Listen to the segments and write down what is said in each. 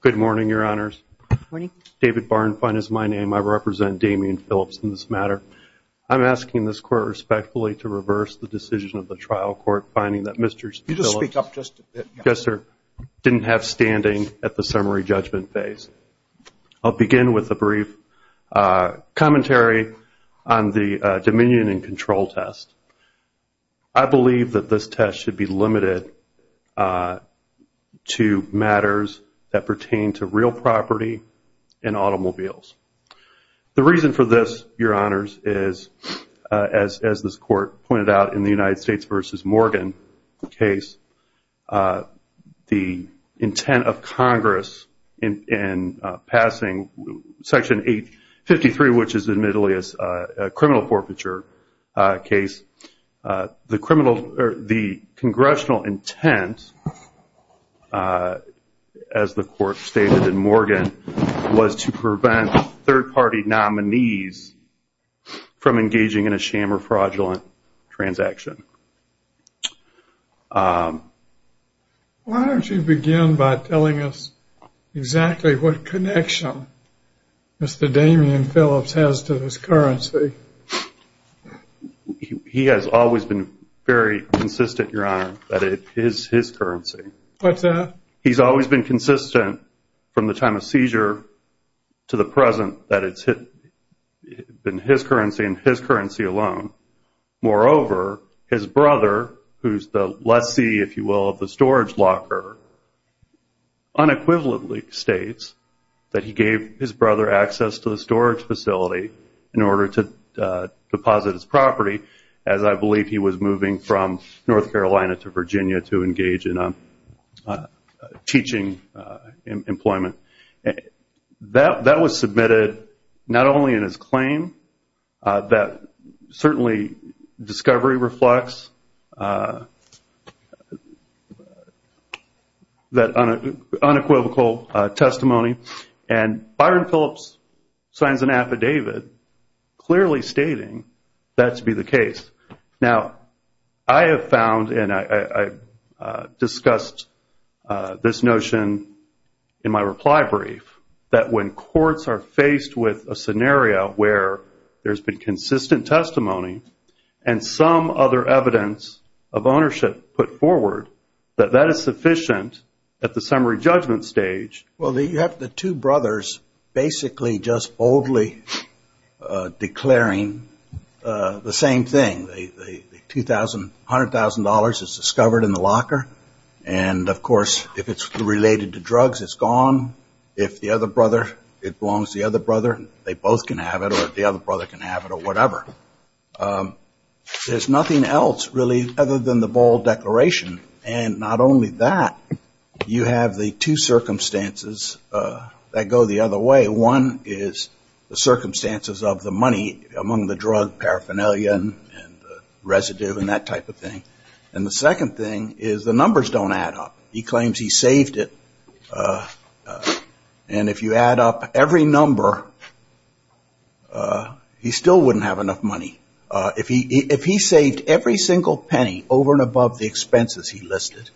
Good morning, your honors. David Barnfine is my name. I represent Damian Phillips in this matter. I'm asking this court respectfully to reverse the decision of the trial court, finding that Mr. Phillips didn't have standing at the summary judgment phase. I'll begin with a brief commentary on the dominion and control test. I believe that this test should be limited to matters that pertain to real property and automobiles. The reason for this, your honors, is as this court pointed out in the United States v. Morgan case, the intent of Congress in passing section 853, which is admittedly a criminal forfeiture case, the congressional intent, as the court stated in Morgan, was to prevent third party nominees from engaging in a sham or fraudulent transaction. Why don't you begin by telling us exactly what connection Mr. Damian Phillips has to this currency? He has always been very consistent, your honor, that it is his currency. What's that? He's always been consistent from the time of seizure to the present that it's been his currency and his currency alone. Moreover, his brother, who's the lessee, if you will, of the storage locker, unequivocally states that he gave his brother access to the storage facility in order to deposit his property, as I believe he was moving from North Carolina to Virginia to engage in teaching employment. That was submitted not only in his claim, that certainly discovery reflects that unequivocal testimony, and Byron Phillips signs an affidavit clearly stating that to be the case. Now, I have found, and I discussed this notion in my reply brief, that when courts are faced with a scenario where there's been consistent testimony and some other evidence of ownership put forward, that that is sufficient at the summary judgment stage. Well, you have the two brothers basically just boldly declaring the same thing. The $100,000 is discovered in the locker. And, of course, if it's related to drugs, it's gone. If the other brother, it belongs to the other brother, they both can have it or the other brother can have it or whatever. There's nothing else really other than the bold declaration. And not only that, you have the two circumstances that go the other way. One is the circumstances of the money among the drug paraphernalia and the residue and that type of thing. And the second thing is the numbers don't add up. He claims he saved it. And if you add up every number, he still wouldn't have enough money. If he saved every single penny over and above the expenses he listed,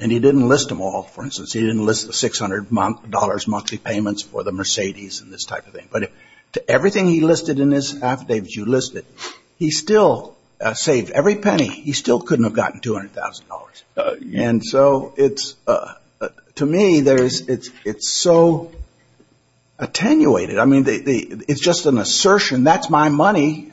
and he didn't list them all, for instance, he didn't list the $600 monthly payments for the Mercedes and this type of thing. But to everything he listed in his affidavits you listed, he still saved every penny. He still couldn't have gotten $200,000. And so to me, it's so attenuated. I mean, it's just an assertion. That's my money,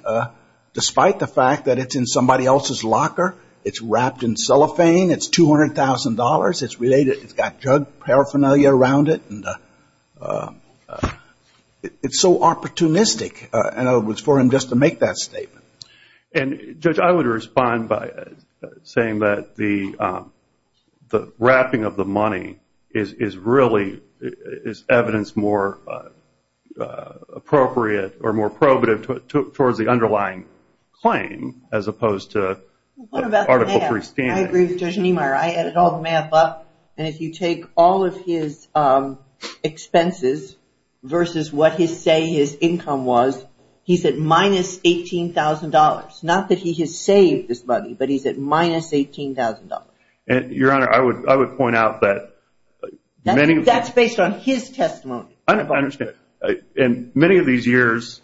despite the fact that it's in somebody else's locker. It's wrapped in cellophane. It's $200,000. It's related. It's got drug paraphernalia around it. It's so opportunistic for him just to make that statement. And, Judge, I would respond by saying that the wrapping of the money is evidence more appropriate or more probative towards the underlying claim as opposed to Article 3 standing. I agree with Judge Niemeyer. I added all the math up. And if you take all of his expenses versus what his say his income was, he's at minus $18,000. Not that he has saved this money, but he's at minus $18,000. And, Your Honor, I would point out that many of the- That's based on his testimony. I understand. And many of these years,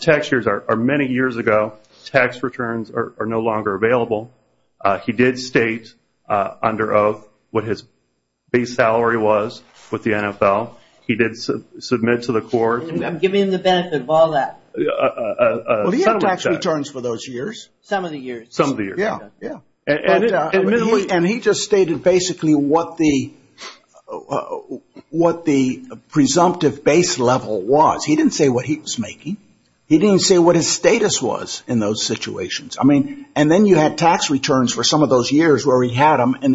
tax years are many years ago. Tax returns are no longer available. He did state under oath what his base salary was with the NFL. He did submit to the court- I'm giving him the benefit of all that. Well, he had tax returns for those years. Some of the years. Some of the years. Yeah, yeah. And he just stated basically what the presumptive base level was. He didn't say what he was making. He didn't say what his status was in those situations. I mean, and then you had tax returns for some of those years where he had them, and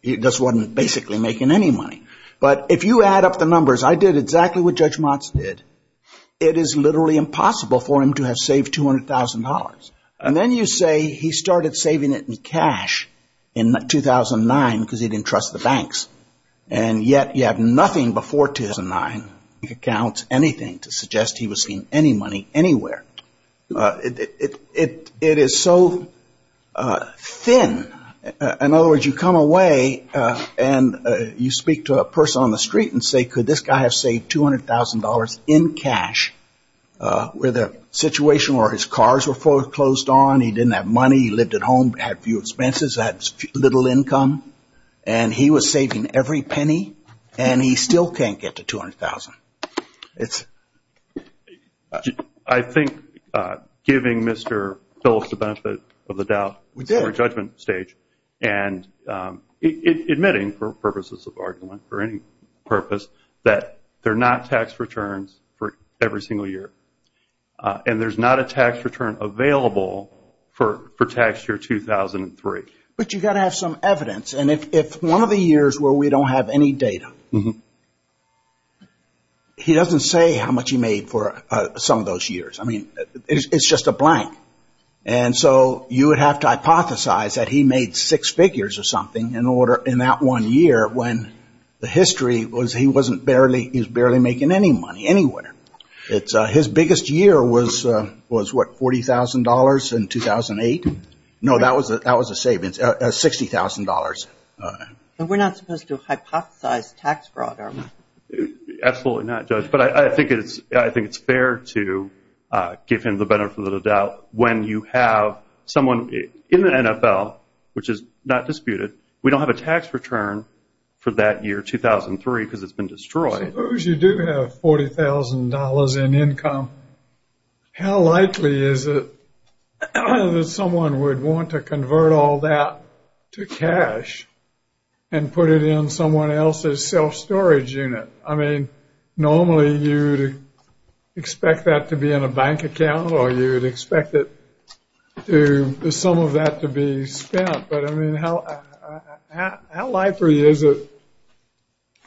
he just wasn't basically making any money. But if you add up the numbers, I did exactly what Judge Motz did. It is literally impossible for him to have saved $200,000. And then you say he started saving it in cash in 2009 because he didn't trust the banks. And yet you have nothing before 2009. You can count anything to suggest he was saving any money anywhere. It is so thin. In other words, you come away and you speak to a person on the street and say, could this guy have saved $200,000 in cash with a situation where his cars were foreclosed on, he didn't have money, he lived at home, had few expenses, had little income, and he was saving every penny, and he still can't get to $200,000. I think giving Mr. Phillips the benefit of the doubt in the judgment stage and admitting for purposes of argument, for any purpose, that there are not tax returns for every single year. And there's not a tax return available for tax year 2003. But you've got to have some evidence. And if one of the years where we don't have any data, he doesn't say how much he made for some of those years. I mean, it's just a blank. And so you would have to hypothesize that he made six figures or something in that one year when the history was he was barely making any money anywhere. His biggest year was what, $40,000 in 2008? No, that was a savings, $60,000. We're not supposed to hypothesize tax fraud, are we? Absolutely not, Judge. But I think it's fair to give him the benefit of the doubt when you have someone in the NFL, which is not disputed, we don't have a tax return for that year 2003 because it's been destroyed. Suppose you do have $40,000 in income. How likely is it that someone would want to convert all that to cash and put it in someone else's self-storage unit? I mean, normally you would expect that to be in a bank account or you would expect some of that to be spent. But I mean, how likely is it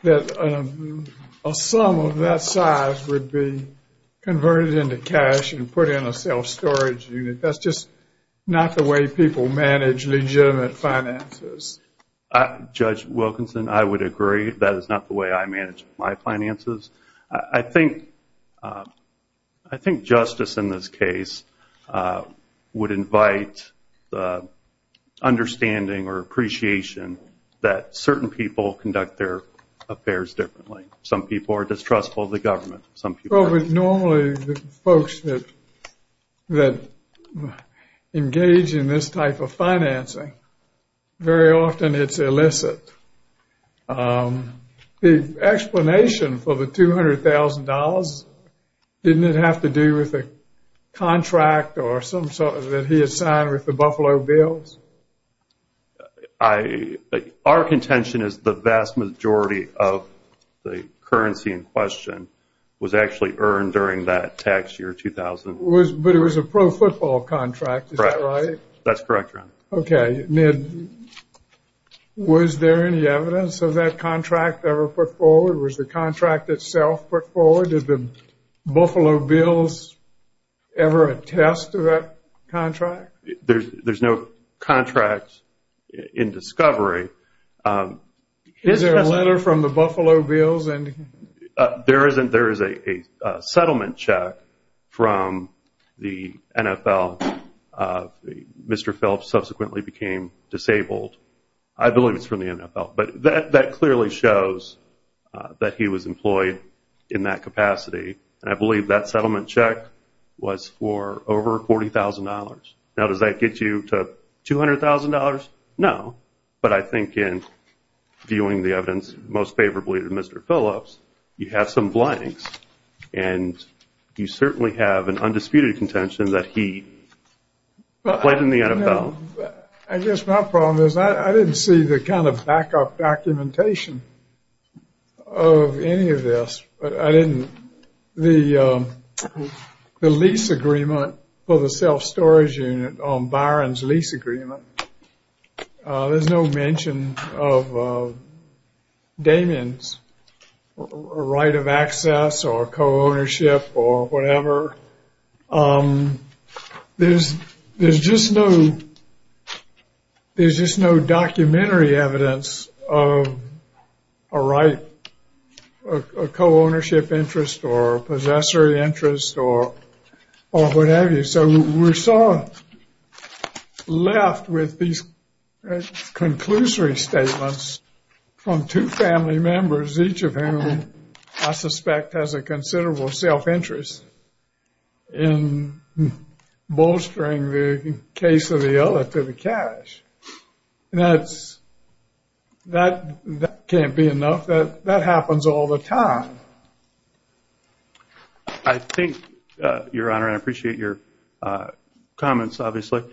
that a sum of that size would be converted into cash and put in a self-storage unit? That's just not the way people manage legitimate finances. Judge Wilkinson, I would agree that is not the way I manage my finances. I think justice in this case would invite the understanding or appreciation that certain people conduct their affairs differently. Some people are distrustful of the government. Well, normally the folks that engage in this type of financing, very often it's illicit. The explanation for the $200,000, didn't it have to do with a contract that he had signed with the Buffalo Bills? Our contention is the vast majority of the currency in question was actually earned during that tax year 2000. But it was a pro-football contract, is that right? That's correct, Your Honor. Okay, Ned, was there any evidence of that contract ever put forward? Was the contract itself put forward? Did the Buffalo Bills ever attest to that contract? There's no contract in discovery. Is there a letter from the Buffalo Bills? There is a settlement check from the NFL. Mr. Phelps subsequently became disabled. I believe it's from the NFL. But that clearly shows that he was employed in that capacity. I believe that settlement check was for over $40,000. Now, does that get you to $200,000? No, but I think in viewing the evidence most favorably to Mr. Phelps, you have some blanks, and you certainly have an undisputed contention that he played in the NFL. I guess my problem is I didn't see the kind of backup documentation of any of this. The lease agreement for the self-storage unit on Byron's lease agreement, there's no mention of Damien's right of access or co-ownership or whatever. There's just no documentary evidence of a right, a co-ownership interest or a possessory interest or whatever. So we're sort of left with these conclusory statements from two family members, each of whom I suspect has a considerable self-interest in bolstering the case of the other to the cash. That can't be enough. That happens all the time. I think, Your Honor, and I appreciate your comments, obviously,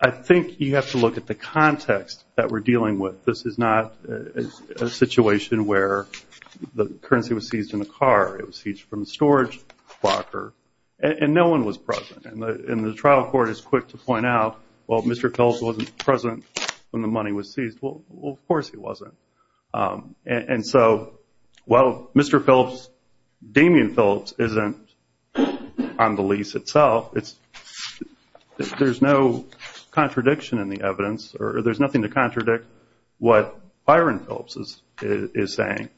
I think you have to look at the context that we're dealing with. This is not a situation where the currency was seized in the car. It was seized from the storage locker, and no one was present. And the trial court is quick to point out, well, Mr. Phelps wasn't present when the money was seized. Well, of course he wasn't. And so while Mr. Phelps, Damien Phelps, isn't on the lease itself, there's no contradiction in the evidence, or there's nothing to contradict what Byron Phelps is saying.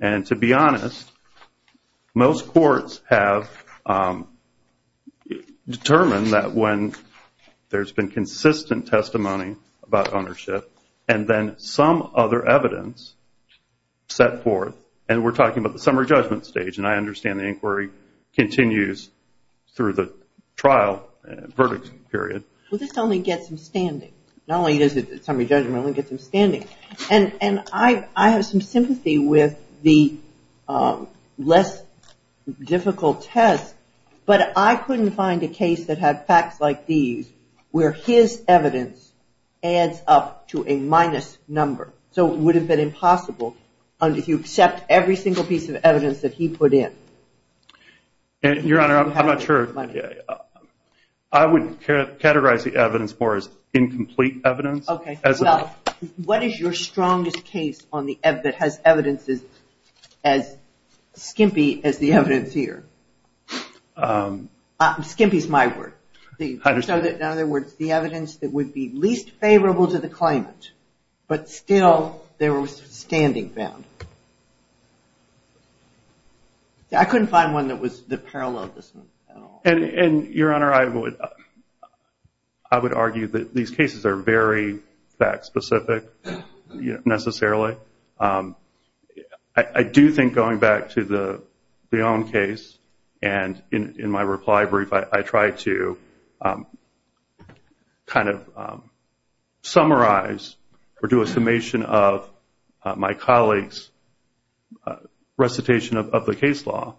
And to be honest, most courts have determined that when there's been consistent testimony about ownership and then some other evidence set forth, and we're talking about the summary judgment stage, and I understand the inquiry continues through the trial verdict period. Well, this only gets him standing. Not only does the summary judgment only get him standing. And I have some sympathy with the less difficult test, but I couldn't find a case that had facts like these where his evidence adds up to a minus number. So it would have been impossible if you accept every single piece of evidence that he put in. Your Honor, I'm not sure. I would categorize the evidence for as incomplete evidence. Well, what is your strongest case that has evidence as skimpy as the evidence here? Skimpy is my word. In other words, the evidence that would be least favorable to the claimant, but still there was standing found. I couldn't find one that was the parallel of this one at all. And, Your Honor, I would argue that these cases are very fact specific necessarily. I do think going back to the own case and in my reply brief, I tried to kind of summarize or do a summation of my colleagues' recitation of the case law.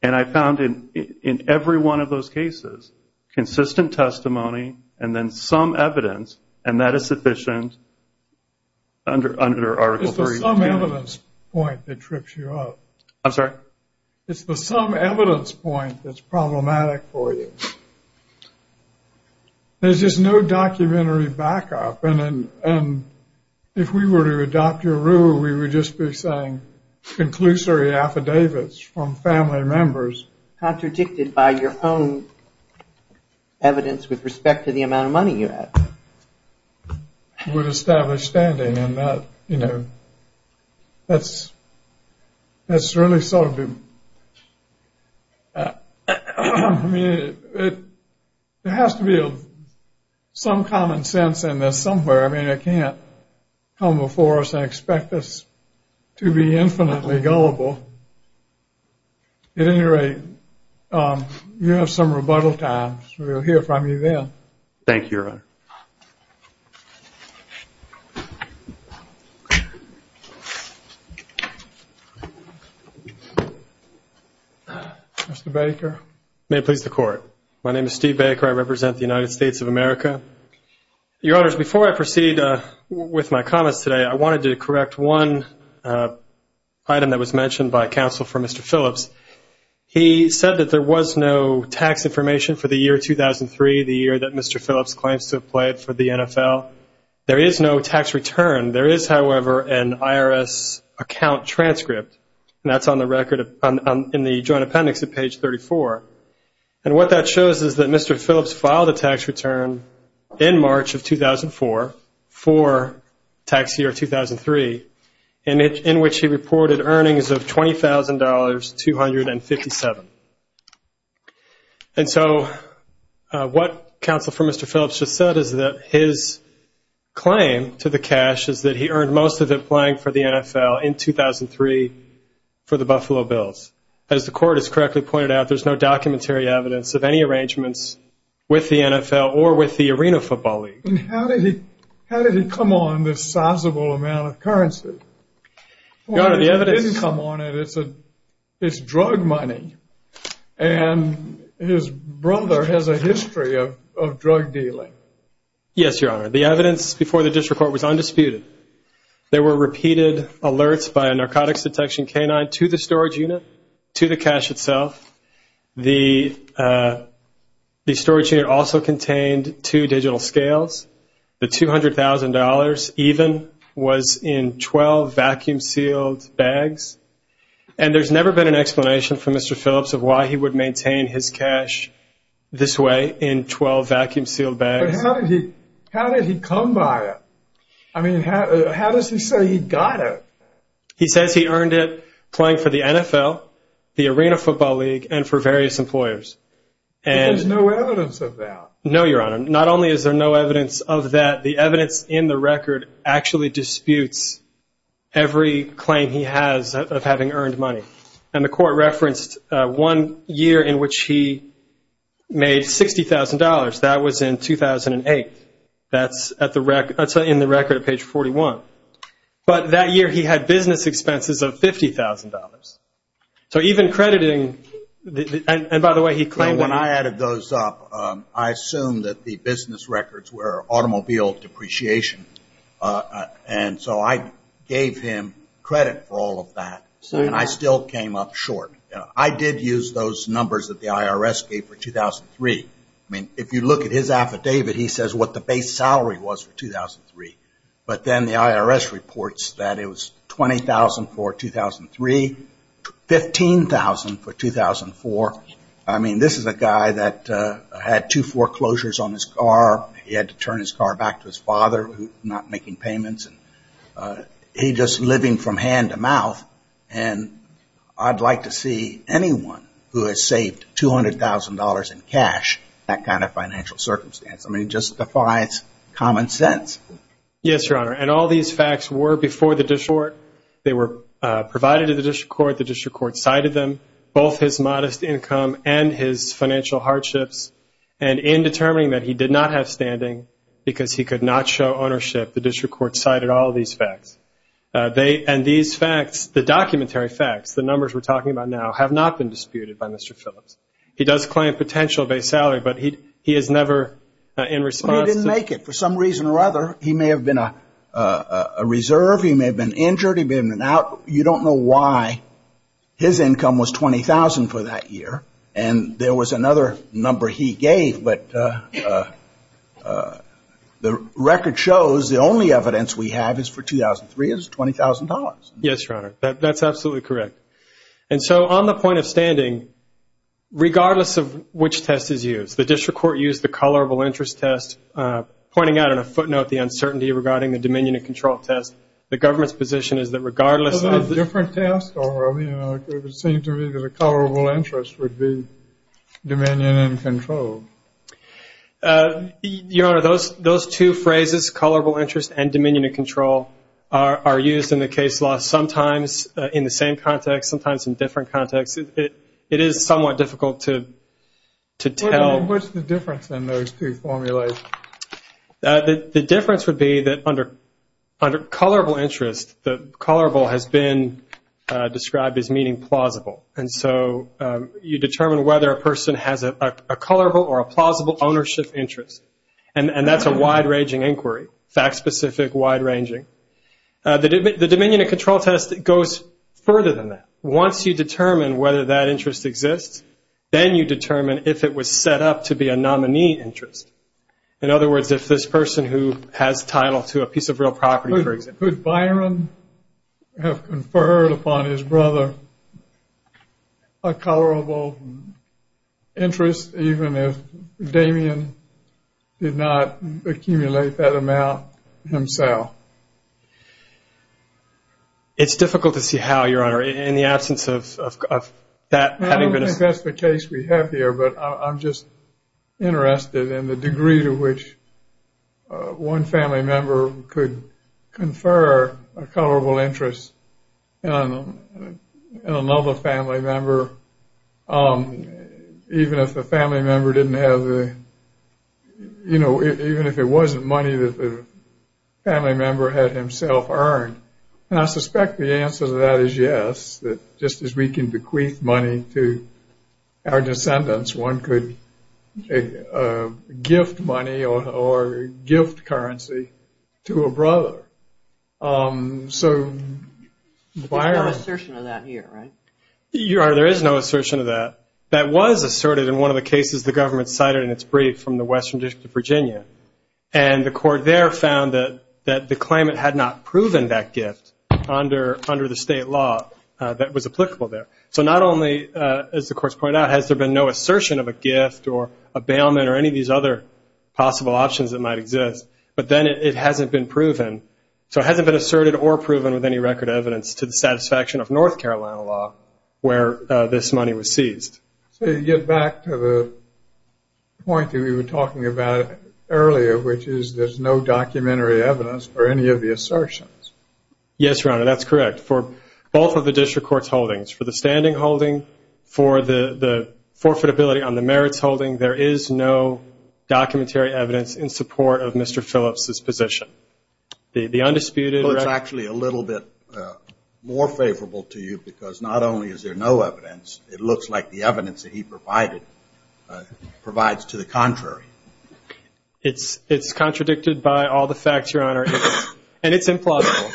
And I found in every one of those cases consistent testimony and then some evidence, and that is sufficient under Article 3. It's the some evidence point that trips you up. I'm sorry? It's the some evidence point that's problematic for you. There's just no documentary backup. And if we were to adopt your rule, we would just be saying conclusory affidavits from family members. Contradicted by your own evidence with respect to the amount of money you had. You would establish standing in that, you know. That's really sort of the, I mean, it has to be some common sense in this somewhere. I mean, it can't come before us and expect us to be infinitely gullible. At any rate, you have some rebuttal time. We'll hear from you then. Thank you, Your Honor. Mr. Baker. May it please the Court. My name is Steve Baker. I represent the United States of America. Your Honors, before I proceed with my comments today, I wanted to correct one item that was mentioned by counsel for Mr. Phillips. He said that there was no tax information for the year 2003, the year that Mr. Phillips claims to have played for the NFL. There is no tax return. There is, however, an IRS account transcript, and that's on the record in the Joint Appendix at page 34. And what that shows is that Mr. Phillips filed a tax return in March of 2004 for tax year 2003, in which he reported earnings of $20,257. And so what counsel for Mr. Phillips just said is that his claim to the cash is that he earned most of it playing for the NFL in 2003 for the Buffalo Bills. As the Court has correctly pointed out, there's no documentary evidence of any arrangements with the NFL or with the Arena Football League. And how did he come on this sizable amount of currency? Your Honor, the evidence… He didn't come on it. It's drug money. And his brother has a history of drug dealing. Yes, Your Honor. The evidence before the district court was undisputed. There were repeated alerts by a narcotics detection canine to the storage unit, to the cash itself. The storage unit also contained two digital scales. The $200,000 even was in 12 vacuum-sealed bags. And there's never been an explanation for Mr. Phillips of why he would maintain his cash this way, in 12 vacuum-sealed bags. But how did he come by it? I mean, how does he say he got it? He says he earned it playing for the NFL, the Arena Football League, and for various employers. But there's no evidence of that. No, Your Honor. Not only is there no evidence of that, the evidence in the record actually disputes every claim he has of having earned money. And the Court referenced one year in which he made $60,000. That was in 2008. That's in the record at page 41. But that year he had business expenses of $50,000. So even crediting, and by the way, he claimed that. When I added those up, I assumed that the business records were automobile depreciation. And so I gave him credit for all of that. And I still came up short. I did use those numbers that the IRS gave for 2003. I mean, if you look at his affidavit, he says what the base salary was for 2003. But then the IRS reports that it was $20,000 for 2003, $15,000 for 2004. I mean, this is a guy that had two foreclosures on his car. He had to turn his car back to his father, not making payments. He's just living from hand to mouth. And I'd like to see anyone who has saved $200,000 in cash in that kind of financial circumstance. I mean, it just defies common sense. Yes, Your Honor. And all these facts were before the district court. They were provided to the district court. The district court cited them, both his modest income and his financial hardships. And in determining that he did not have standing because he could not show ownership, the district court cited all these facts. And these facts, the documentary facts, the numbers we're talking about now, have not been disputed by Mr. Phillips. He does claim a potential base salary, but he is never in response. But he didn't make it for some reason or other. He may have been a reserve. He may have been injured. He may have been out. You don't know why his income was $20,000 for that year. And there was another number he gave. But the record shows the only evidence we have is for 2003 is $20,000. Yes, Your Honor. That's absolutely correct. And so on the point of standing, regardless of which test is used, the district court used the colorable interest test, pointing out in a footnote the uncertainty regarding the dominion and control test. The government's position is that regardless of the different tests, or it would seem to me that a colorable interest would be dominion and control. Your Honor, those two phrases, colorable interest and dominion and control, are used in the case law sometimes in the same context, sometimes in different contexts. It is somewhat difficult to tell. What's the difference in those two formulations? The difference would be that under colorable interest, the colorable has been described as meaning plausible. And so you determine whether a person has a colorable or a plausible ownership interest. And that's a wide-ranging inquiry, fact-specific, wide-ranging. The dominion and control test goes further than that. Once you determine whether that interest exists, then you determine if it was set up to be a nominee interest. In other words, if this person who has title to a piece of real property, for example. Could Byron have conferred upon his brother a colorable interest even if Damien did not accumulate that amount himself? It's difficult to see how, Your Honor, in the absence of that. I don't think that's the case we have here, but I'm just interested in the degree to which one family member could confer a colorable interest on another family member, even if the family member didn't have the, you know, even if it wasn't money that the family member had himself earned. And I suspect the answer to that is yes, that just as we can bequeath money to our descendants, one could gift money or gift currency to a brother. So, Byron. There's no assertion of that here, right? Your Honor, there is no assertion of that. That was asserted in one of the cases the government cited in its brief from the Western District of Virginia. And the court there found that the claimant had not proven that gift under the state law that was applicable there. So not only, as the court's pointed out, has there been no assertion of a gift or a bailment or any of these other possible options that might exist, but then it hasn't been proven. So it hasn't been asserted or proven with any record evidence to the satisfaction of North Carolina law where this money was seized. So you get back to the point that we were talking about earlier, which is there's no documentary evidence for any of the assertions. Yes, Your Honor, that's correct. For both of the district court's holdings, for the standing holding, for the forfeitability on the merits holding, there is no documentary evidence in support of Mr. Phillips' position. The undisputed record. Well, it's actually a little bit more favorable to you because not only is there no evidence, it looks like the evidence that he provided provides to the contrary. It's contradicted by all the facts, Your Honor. And it's implausible.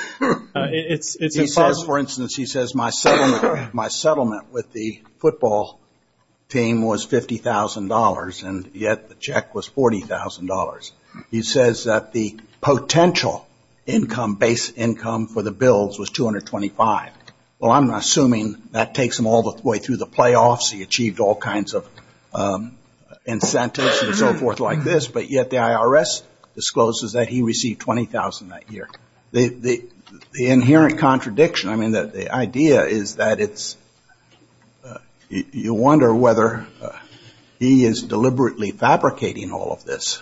He says, for instance, he says, my settlement with the football team was $50,000, and yet the check was $40,000. He says that the potential income, base income for the Bills was $225,000. Well, I'm assuming that takes him all the way through the playoffs. He achieved all kinds of incentives and so forth like this, but yet the IRS discloses that he received $20,000 that year. The inherent contradiction, I mean, the idea is that it's, you wonder whether he is deliberately fabricating all of this,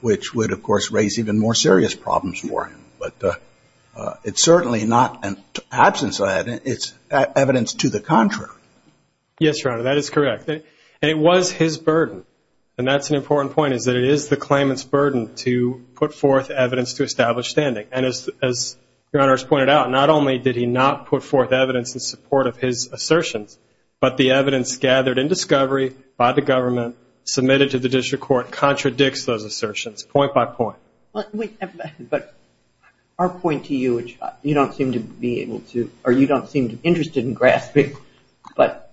which would, of course, raise even more serious problems for him. But it's certainly not an absence of that. It's evidence to the contrary. Yes, Your Honor, that is correct. And it was his burden. And that's an important point, is that it is the claimant's burden to put forth evidence to establish standing. And as Your Honor has pointed out, not only did he not put forth evidence in support of his assertions, but the evidence gathered in discovery by the government, submitted to the district court, contradicts those assertions point by point. But our point to you, which you don't seem to be able to, or you don't seem interested in grasping, but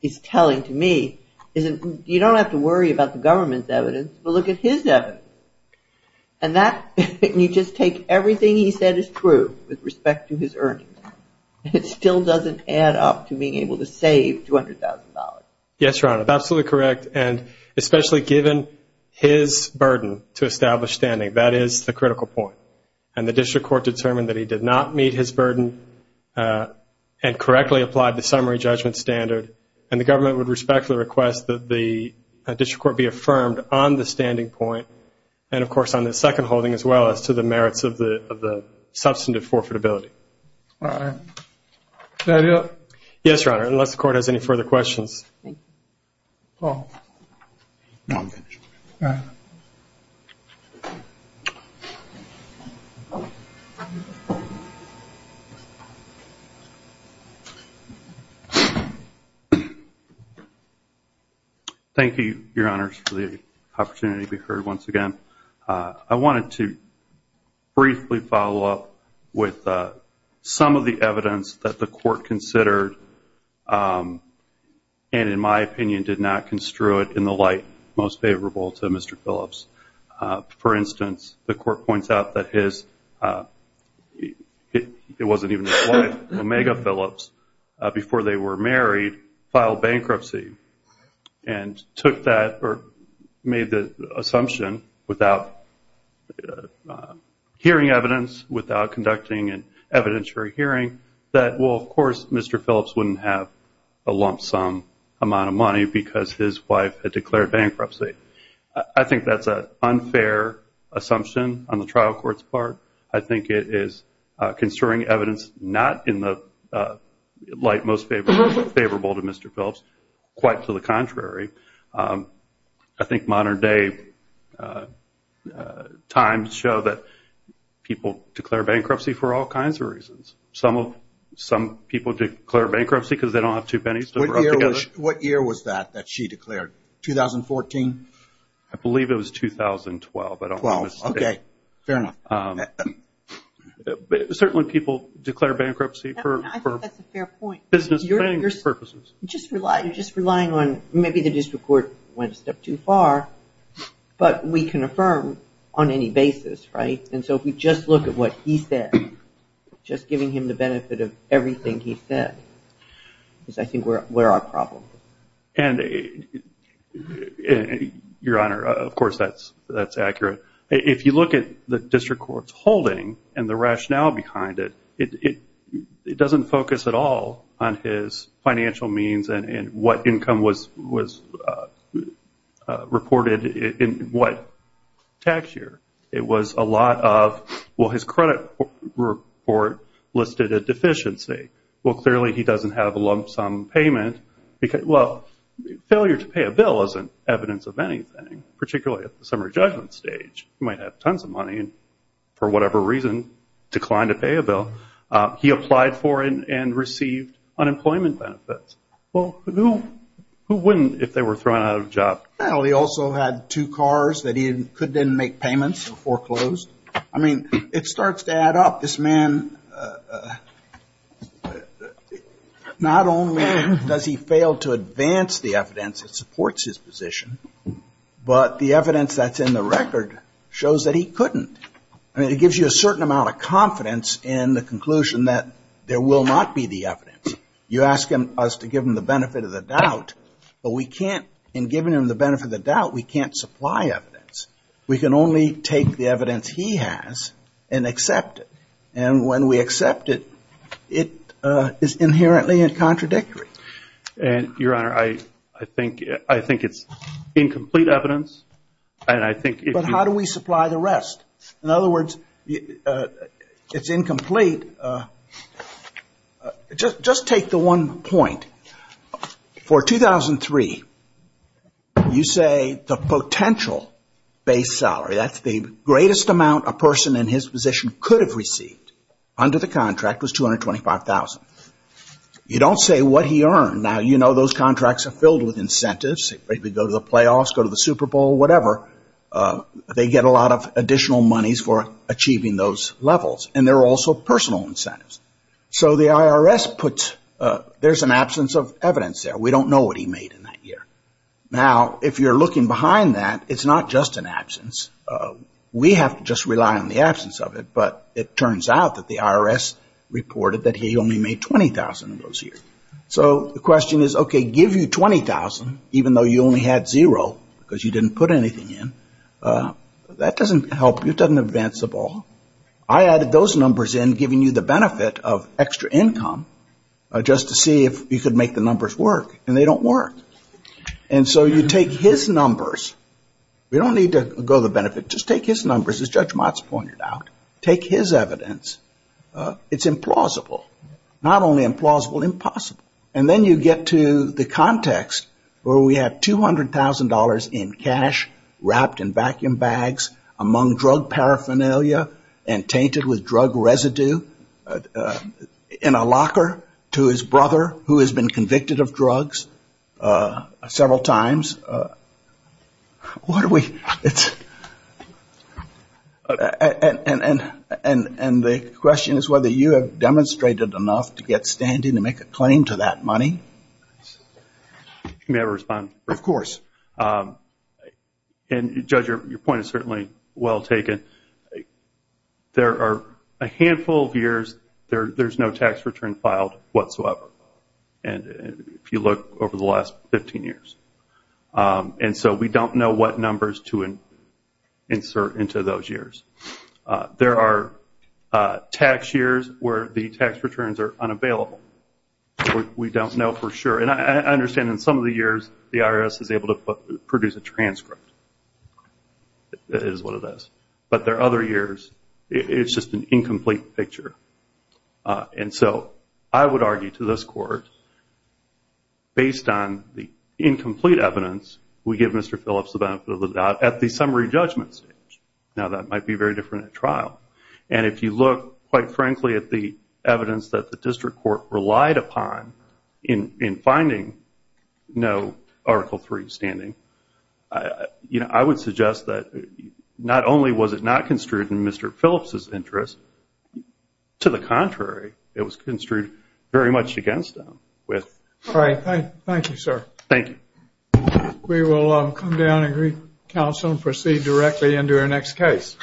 is telling to me, is you don't have to worry about the government's evidence, but look at his evidence. And you just take everything he said is true with respect to his earnings, and it still doesn't add up to being able to save $200,000. Yes, Your Honor, that's absolutely correct. And especially given his burden to establish standing, that is the critical point. And the district court determined that he did not meet his burden and correctly applied the summary judgment standard. And the government would respectfully request that the district court be affirmed on the standing point and, of course, on the second holding, as well as to the merits of the substantive forfeitability. All right. Is that it? Yes, Your Honor, unless the court has any further questions. Paul. No, I'm finished. All right. Thank you. Thank you, Your Honors, for the opportunity to be heard once again. I wanted to briefly follow up with some of the evidence that the court considered and, in my opinion, did not construe it in the light most favorable to Mr. Phillips. For instance, the court points out that his, it wasn't even his wife, Omega Phillips, before they were married, filed bankruptcy and took that or made the assumption without hearing evidence, without conducting an evidentiary hearing, that, well, of course Mr. Phillips wouldn't have a lump sum amount of money because his wife had declared bankruptcy. I think that's an unfair assumption on the trial court's part. I think it is construing evidence not in the light most favorable to Mr. Phillips, quite to the contrary. I think modern day times show that people declare bankruptcy for all kinds of reasons. Some people declare bankruptcy because they don't have two pennies to rub together. What year was that that she declared? 2014? I believe it was 2012. Okay, fair enough. Certainly people declare bankruptcy for business purposes. You're just relying on maybe the district court went a step too far, but we can affirm on any basis, right? And so if we just look at what he said, just giving him the benefit of everything he said is, I think, where our problem is. And, Your Honor, of course that's accurate. If you look at the district court's holding and the rationale behind it, it doesn't focus at all on his financial means and what income was reported in what tax year. It was a lot of, well, his credit report listed a deficiency. Well, clearly he doesn't have a lump sum payment. Well, failure to pay a bill isn't evidence of anything, particularly at the summary judgment stage. He might have tons of money and for whatever reason declined to pay a bill. He applied for and received unemployment benefits. Well, who wouldn't if they were thrown out of a job? Well, he also had two cars that he couldn't make payments or foreclosed. I mean, it starts to add up. This man, not only does he fail to advance the evidence that supports his position, but the evidence that's in the record shows that he couldn't. I mean, it gives you a certain amount of confidence in the conclusion that there will not be the evidence. You ask us to give him the benefit of the doubt, but we can't. In giving him the benefit of the doubt, we can't supply evidence. We can only take the evidence he has and accept it. And when we accept it, it is inherently contradictory. Your Honor, I think it's incomplete evidence. But how do we supply the rest? In other words, it's incomplete. Just take the one point. For 2003, you say the potential base salary, that's the greatest amount a person in his position could have received under the contract, was $225,000. You don't say what he earned. Now, you know those contracts are filled with incentives. They go to the playoffs, go to the Super Bowl, whatever. They get a lot of additional monies for achieving those levels. And they're also personal incentives. So the IRS puts, there's an absence of evidence there. We don't know what he made in that year. Now, if you're looking behind that, it's not just an absence. We have to just rely on the absence of it. But it turns out that the IRS reported that he only made $20,000 in those years. So the question is, okay, give you $20,000, even though you only had zero because you didn't put anything in. That doesn't help you. It doesn't advance the ball. I added those numbers in, giving you the benefit of extra income, just to see if you could make the numbers work. And they don't work. And so you take his numbers. We don't need to go to the benefit. Just take his numbers, as Judge Motz pointed out. Take his evidence. It's implausible. Not only implausible, impossible. And then you get to the context where we have $200,000 in cash wrapped in vacuum bags among drug paraphernalia and tainted with drug residue in a locker to his brother, who has been convicted of drugs several times. And the question is whether you have demonstrated enough to get standing to make a claim to that money. May I respond? Of course. And, Judge, your point is certainly well taken. There are a handful of years there's no tax return filed whatsoever, if you look over the last 15 years. And so we don't know what numbers to insert into those years. There are tax years where the tax returns are unavailable. We don't know for sure. And I understand in some of the years the IRS is able to produce a transcript. It is what it is. But there are other years. It's just an incomplete picture. And so I would argue to this Court, based on the incomplete evidence, we give Mr. Phillips the benefit of the doubt at the summary judgment stage. Now, that might be very different at trial. And if you look, quite frankly, at the evidence that the district court relied upon in finding no Article III standing, I would suggest that not only was it not construed in Mr. Phillips' interest, to the contrary, it was construed very much against him. All right. Thank you, sir. Thank you. We will come down and greet counsel and proceed directly into our next case.